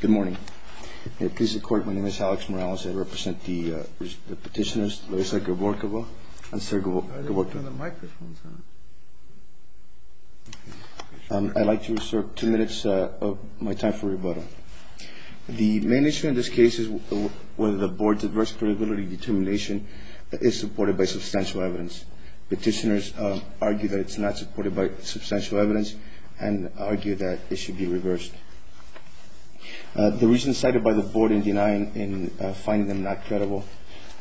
Good morning. I'd like to reserve two minutes of my time for rebuttal. The main issue in this case is whether the Board's adverse probability determination is supported by substantial evidence. Petitioners argue that it's not supported by substantial evidence and argue that it should be reversed. The reasons cited by the Board in denying and finding them not credible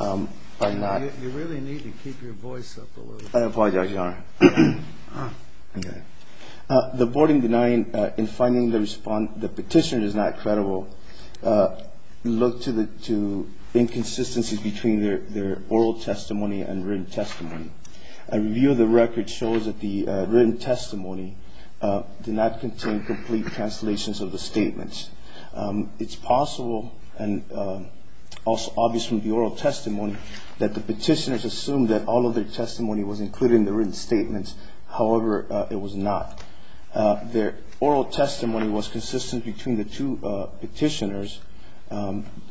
are not... You really need to keep your voice up a little bit. I apologize, Your Honor. Okay. The Board in denying and finding the petitioner is not credible look to inconsistencies between their oral testimony and written testimony. A review of the record shows that the written testimony did not contain complete translations of the statements. It's possible and obvious from the oral testimony that the petitioners assumed that all of their testimony was included in the written statements. However, it was not. Their oral testimony was consistent between the two petitioners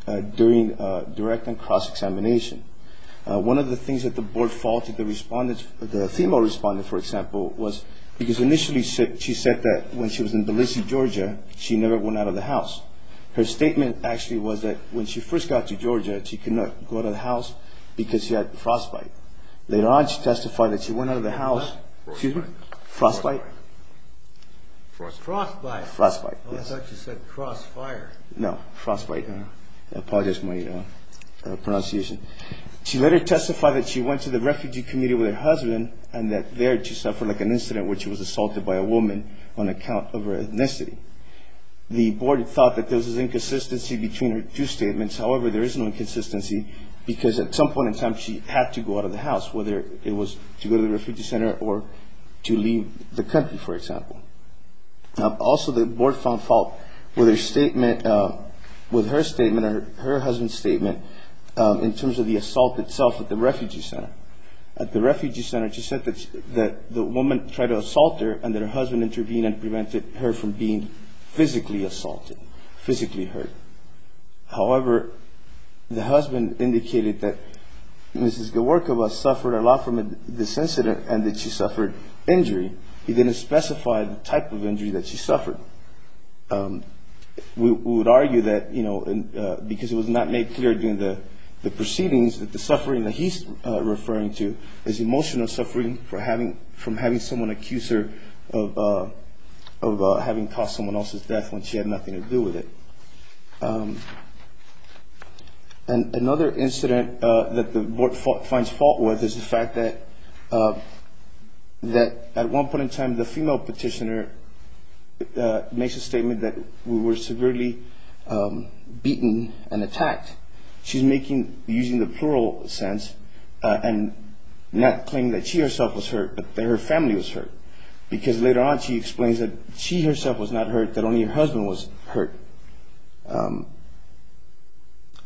during direct and cross-examination. One of the things that the Board faulted the respondent, the female respondent, for example, was because initially she said that when she was in Tbilisi, Georgia, she never went out of the house. Her statement actually was that when she first got to Georgia, she could not go out of the house because she had frostbite. They did not testify that she went out of the house... What? Excuse me? Frostbite. Frostbite. Frostbite. Frostbite, yes. I thought you said crossfire. No, frostbite. I apologize for my pronunciation. She later testified that she went to the refugee community with her husband and that there she suffered like an incident where she was assaulted by a woman on account of her ethnicity. The Board thought that there was an inconsistency between her two statements. However, there is no inconsistency because at some point in time she had to go out of the house, whether it was to go to the refugee center or to leave the country, for example. Also, the Board found fault with her statement or her husband's statement in terms of the assault itself at the refugee center. At the refugee center, she said that the woman tried to assault her and that her husband intervened and prevented her from being physically assaulted, physically hurt. However, the husband indicated that Mrs. Gaworkova suffered a lot from this incident and that she suffered injury. He didn't specify the type of injury that she suffered. We would argue that, you know, because it was not made clear during the proceedings that the suffering that he's referring to is emotional suffering from having someone accuse her of having caused someone else's death when she had nothing to do with it. And another incident that the Board finds fault with is the fact that at one point in time, the female petitioner makes a statement that we were severely beaten and attacked. She's using the plural sense and not claiming that she herself was hurt but that her family was hurt because later on she explains that she herself was not hurt, that only her husband was hurt.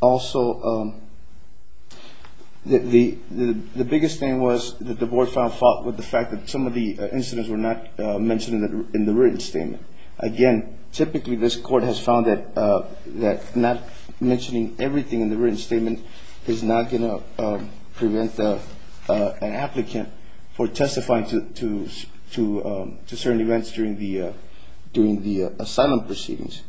Also, the biggest thing was that the Board found fault with the fact that some of the incidents were not mentioned in the written statement. Again, typically this Court has found that not mentioning everything in the written statement is not going to prevent an applicant for testifying to certain events during the asylum proceedings.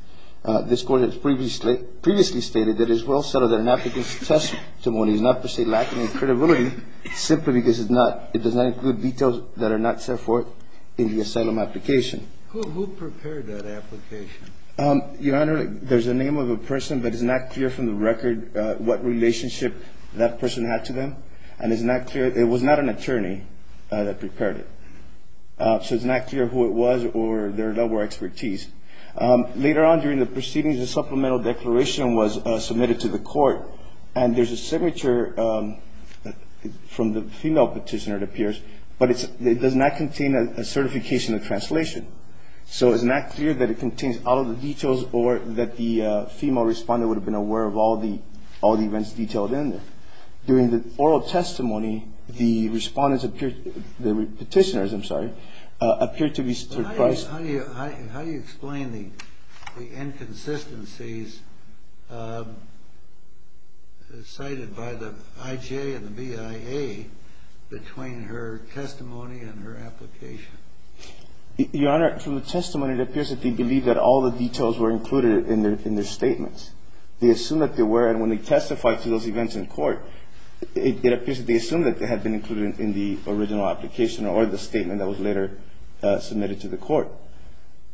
This Court has previously stated that it is well settled that an applicant's testimony is not per se lacking in credibility simply because it does not include details that are not set forth in the asylum application. Who prepared that application? Your Honor, there's the name of a person but it's not clear from the record what relationship that person had to them and it's not clear that it was not an attorney that prepared it. So it's not clear who it was or their level of expertise. Later on during the proceedings, a supplemental declaration was submitted to the Court and there's a signature from the female petitioner, it appears, but it does not contain a certification of translation. So it's not clear that it contains all of the details or that the female responder would have been aware of all the events detailed in there. During the oral testimony, the petitioners appeared to be surprised. How do you explain the inconsistencies cited by the IJ and the BIA between her testimony and her application? Your Honor, through the testimony, it appears that they believe that all the details were included in their statements. They assume that they were, and when they testified to those events in court, it appears that they assumed that they had been included in the original application or the statement that was later submitted to the Court.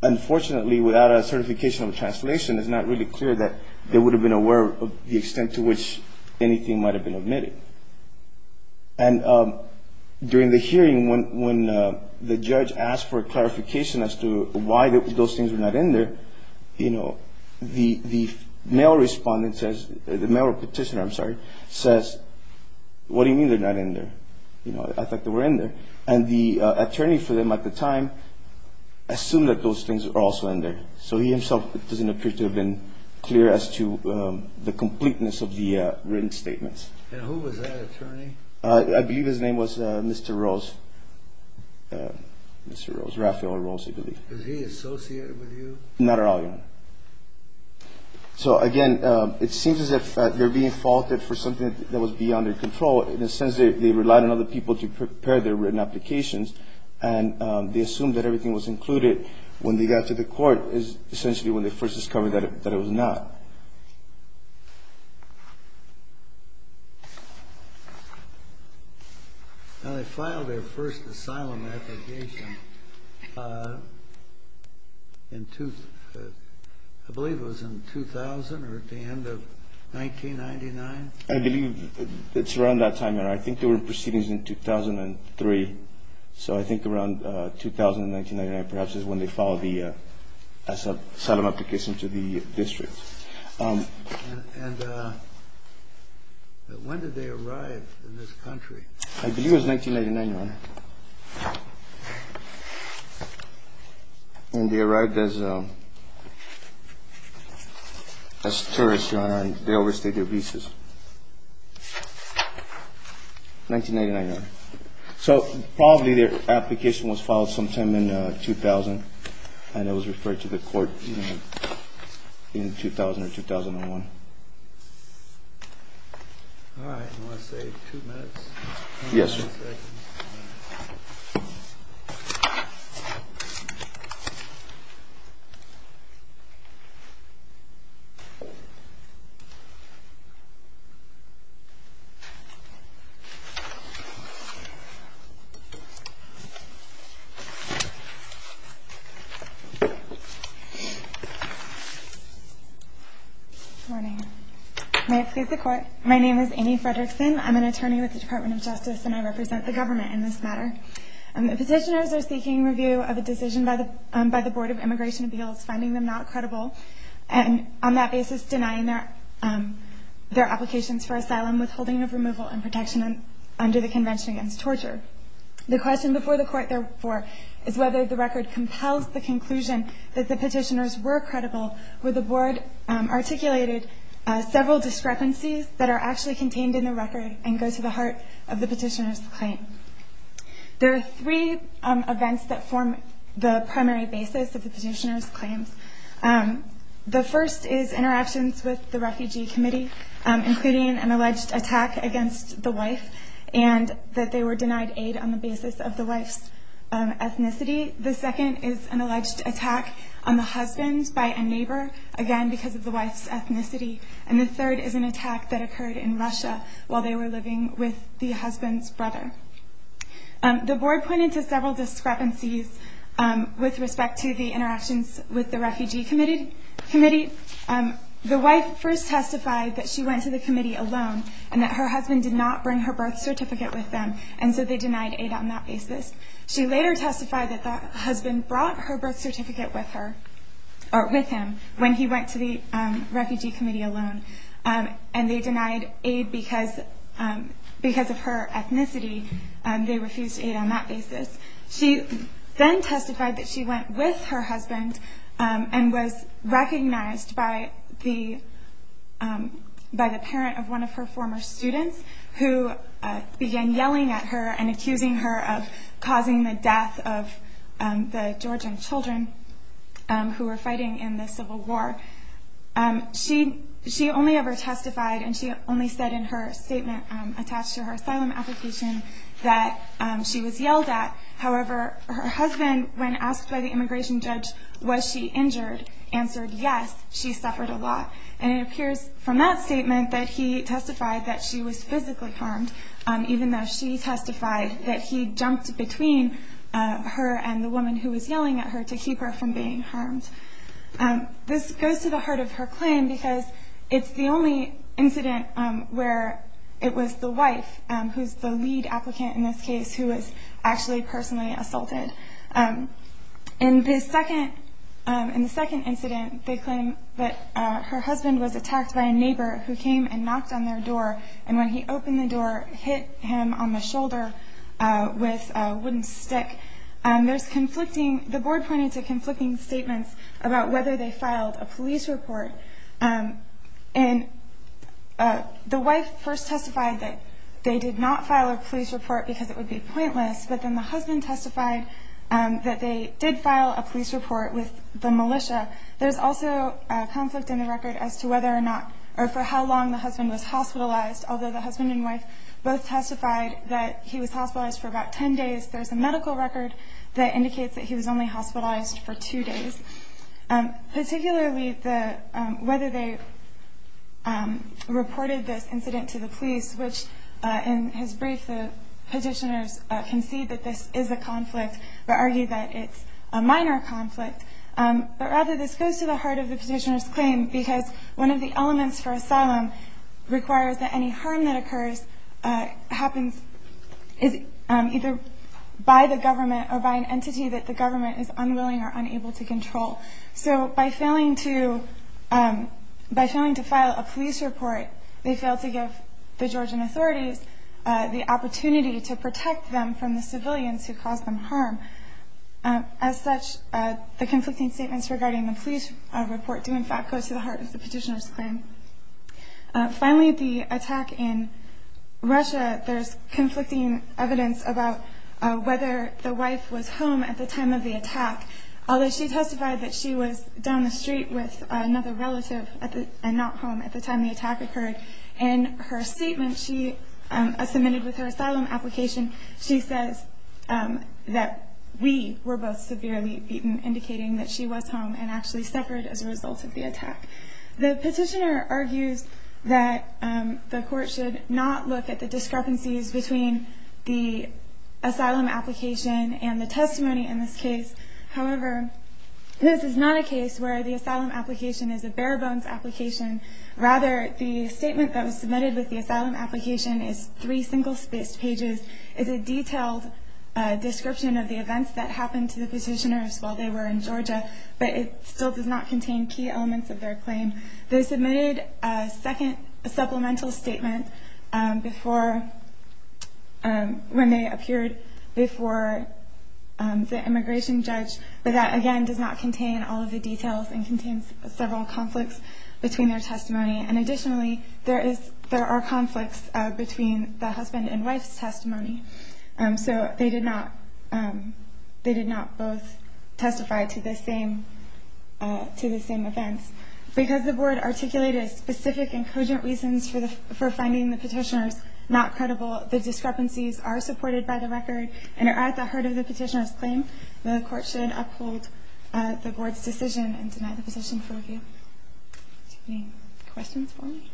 Unfortunately, without a certification of translation, it's not really clear that they would have been aware of the extent to which anything might have been omitted. And during the hearing, when the judge asked for clarification as to why those things were not in there, you know, the male respondent says, the male petitioner, I'm sorry, says, what do you mean they're not in there? You know, I thought they were in there. And the attorney for them at the time assumed that those things were also in there. So he himself doesn't appear to have been clear as to the completeness of the written statements. And who was that attorney? I believe his name was Mr. Rose, Mr. Rose, Rafael Rose, I believe. Was he associated with you? Not at all, Your Honor. So, again, it seems as if they're being faulted for something that was beyond their control. In a sense, they relied on other people to prepare their written applications, and they assumed that everything was included. When they got to the court is essentially when they first discovered that it was not. Now, they filed their first asylum application in, I believe it was in 2000 or at the end of 1999? I believe it's around that time, Your Honor. I think there were proceedings in 2003. So I think around 2000 or 1999 perhaps is when they filed the asylum application to the district. And when did they arrive in this country? I believe it was 1999, Your Honor. And they arrived as tourists, Your Honor, and they overstayed their visas. 1999, Your Honor. So probably their application was filed sometime in 2000, and it was referred to the court in 2000 or 2001. All right. I'm going to say two minutes. Yes, sir. Good morning. May it please the Court, my name is Amy Fredrickson. I'm an attorney with the Department of Justice, and I represent the government in this matter. Petitioners are seeking review of a decision by the Board of Immigration Appeals finding them not credible and on that basis denying their applications for asylum withholding of removal and protection under the Convention Against Torture. The question before the Court, therefore, is whether the record compels the conclusion that the petitioners were credible where the Board articulated several discrepancies that are actually contained in the record and go to the heart of the petitioner's claim. There are three events that form the primary basis of the petitioner's claims. The first is interactions with the refugee committee, including an alleged attack against the wife and that they were denied aid on the basis of the wife's ethnicity. The second is an alleged attack on the husband by a neighbor, again because of the wife's ethnicity. And the third is an attack that occurred in Russia while they were living with the husband's brother. The Board pointed to several discrepancies with respect to the interactions with the refugee committee. The wife first testified that she went to the committee alone and that her husband did not bring her birth certificate with them and so they denied aid on that basis. She later testified that the husband brought her birth certificate with him when he went to the refugee committee alone and they denied aid because of her ethnicity. They refused aid on that basis. She then testified that she went with her husband and was recognized by the parent of one of her former students who began yelling at her and accusing her of causing the death of the Georgian children who were fighting in the Civil War. She only ever testified and she only said in her statement attached to her asylum application that she was yelled at. However, her husband, when asked by the immigration judge, was she injured, answered yes, she suffered a lot. And it appears from that statement that he testified that she was physically harmed, even though she testified that he jumped between her and the woman who was yelling at her to keep her from being harmed. This goes to the heart of her claim because it's the only incident where it was the wife, who's the lead applicant in this case, who was actually personally assaulted. In the second incident, they claim that her husband was attacked by a neighbor who came and knocked on their door and when he opened the door, hit him on the shoulder with a wooden stick. The board pointed to conflicting statements about whether they filed a police report. The wife first testified that they did not file a police report because it would be pointless, but then the husband testified that they did file a police report with the militia. There's also a conflict in the record as to whether or not or for how long the husband was hospitalized. Although the husband and wife both testified that he was hospitalized for about 10 days, there's a medical record that indicates that he was only hospitalized for two days. Particularly, whether they reported this incident to the police, which in his brief, the petitioners concede that this is a conflict, but argue that it's a minor conflict. Rather, this goes to the heart of the petitioner's claim because one of the elements for asylum requires that any harm that occurs happens either by the government or by an entity that the government is unwilling or unable to control. So by failing to file a police report, they fail to give the Georgian authorities the opportunity to protect them from the civilians who cause them harm. As such, the conflicting statements regarding the police report do in fact go to the heart of the petitioner's claim. Finally, the attack in Russia, there's conflicting evidence about whether the wife was home at the time of the attack. Although she testified that she was down the street with another relative and not home at the time the attack occurred, in her statement she submitted with her asylum application, she says that we were both severely beaten, indicating that she was home and actually suffered as a result of the attack. The petitioner argues that the court should not look at the discrepancies between the asylum application and the testimony in this case. However, this is not a case where the asylum application is a bare-bones application. Rather, the statement that was submitted with the asylum application is three single-spaced pages. It's a detailed description of the events that happened to the petitioners while they were in Georgia, but it still does not contain key elements of their claim. They submitted a second supplemental statement when they appeared before the immigration judge, but that again does not contain all of the details and contains several conflicts between their testimony. Additionally, there are conflicts between the husband and wife's testimony. So they did not both testify to the same events. Because the board articulated specific and cogent reasons for finding the petitioners not credible, the discrepancies are supported by the record and are at the heart of the petitioner's claim. The court should uphold the board's decision and deny the petition for review. Any questions for me?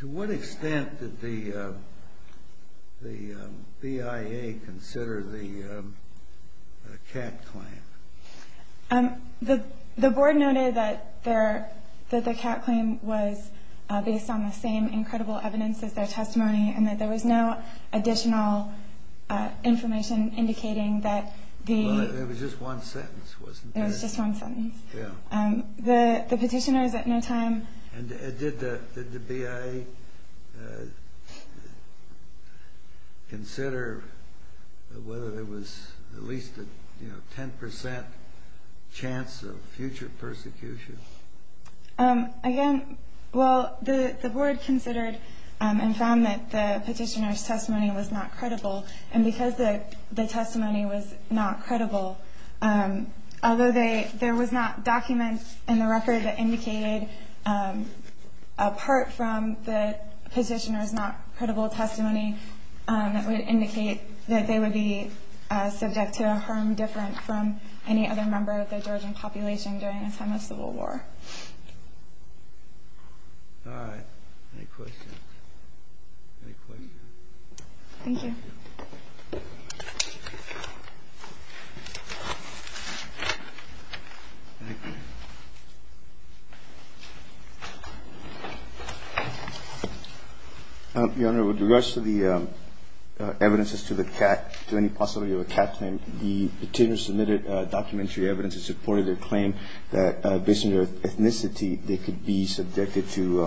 To what extent did the BIA consider the Catt claim? The board noted that the Catt claim was based on the same incredible evidence as their testimony and that there was no additional information indicating that the... Well, it was just one sentence, wasn't it? It was just one sentence. Yeah. The petitioners at no time... And did the BIA consider whether there was at least a 10% chance of future persecution? Again, well, the board considered and found that the petitioner's testimony was not credible, and because the testimony was not credible, although there was not documents in the record that indicated apart from the petitioner's not credible testimony that would indicate that they would be subject to a harm different from any other member of the Georgian population during a time of civil war. All right. Any questions? Any questions? Thank you. Your Honor, with regards to the evidences to the Catt, to any possibility of a Catt claim, the petitioners submitted documentary evidence in support of their claim that, based on their ethnicity, they could be subjected to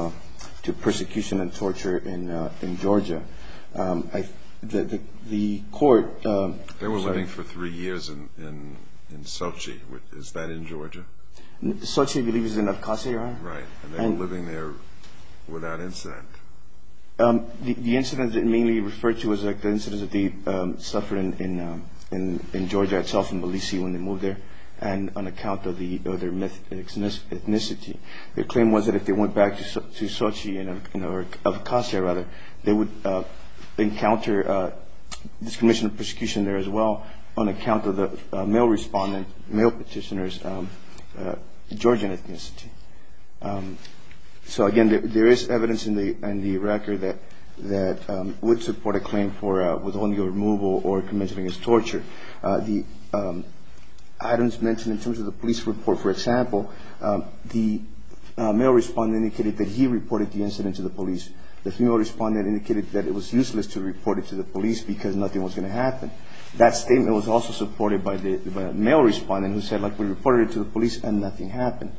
persecution and torture in Georgia. The court... They were living for three years in Sochi. Is that in Georgia? Sochi, I believe, is in Abkhazia, Your Honor. Right. And they were living there without insight. The incidents they mainly referred to was like the incidents that they suffered in Georgia itself, in Tbilisi, when they moved there, and on account of their ethnicity. Their claim was that if they went back to Sochi or Abkhazia, rather, they would encounter discrimination and persecution there as well on account of the male respondent, male petitioner's Georgian ethnicity. So, again, there is evidence in the record that would support a claim for withholding or removal or commencing against torture. The items mentioned in terms of the police report, for example, the male respondent indicated that he reported the incident to the police. The female respondent indicated that it was useless to report it to the police because nothing was going to happen. That statement was also supported by the male respondent who said, like, we reported it to the police and nothing happened.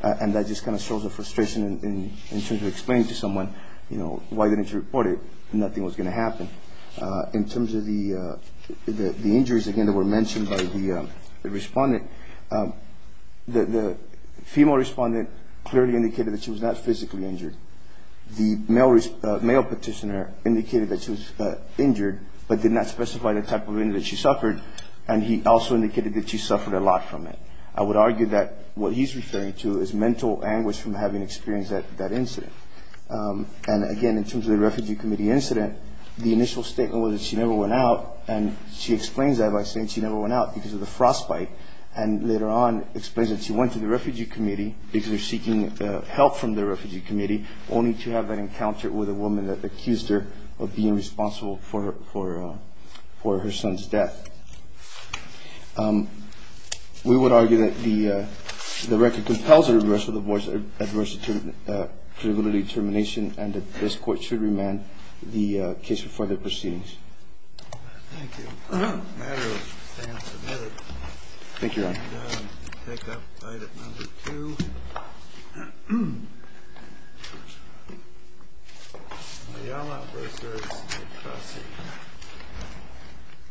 And that just kind of shows the frustration in terms of explaining to someone, you know, why they didn't report it and nothing was going to happen. In terms of the injuries, again, that were mentioned by the respondent, the female respondent clearly indicated that she was not physically injured. The male petitioner indicated that she was injured but did not specify the type of injury that she suffered, and he also indicated that she suffered a lot from it. I would argue that what he's referring to is mental anguish from having experienced that incident. And, again, in terms of the Refugee Committee incident, the initial statement was that she never went out, and she explains that by saying she never went out because of the frostbite, and later on explains that she went to the Refugee Committee because she was seeking help from the Refugee Committee, only to have that encounter with a woman that accused her of being responsible for her son's death. We would argue that the record compels a reversal of the Boys Adversity Criminal Determination, and that this Court should remand the case for further proceedings. Thank you. Thank you, Your Honor. And we'll take up Bidet number two. Ayala versus Petrosi.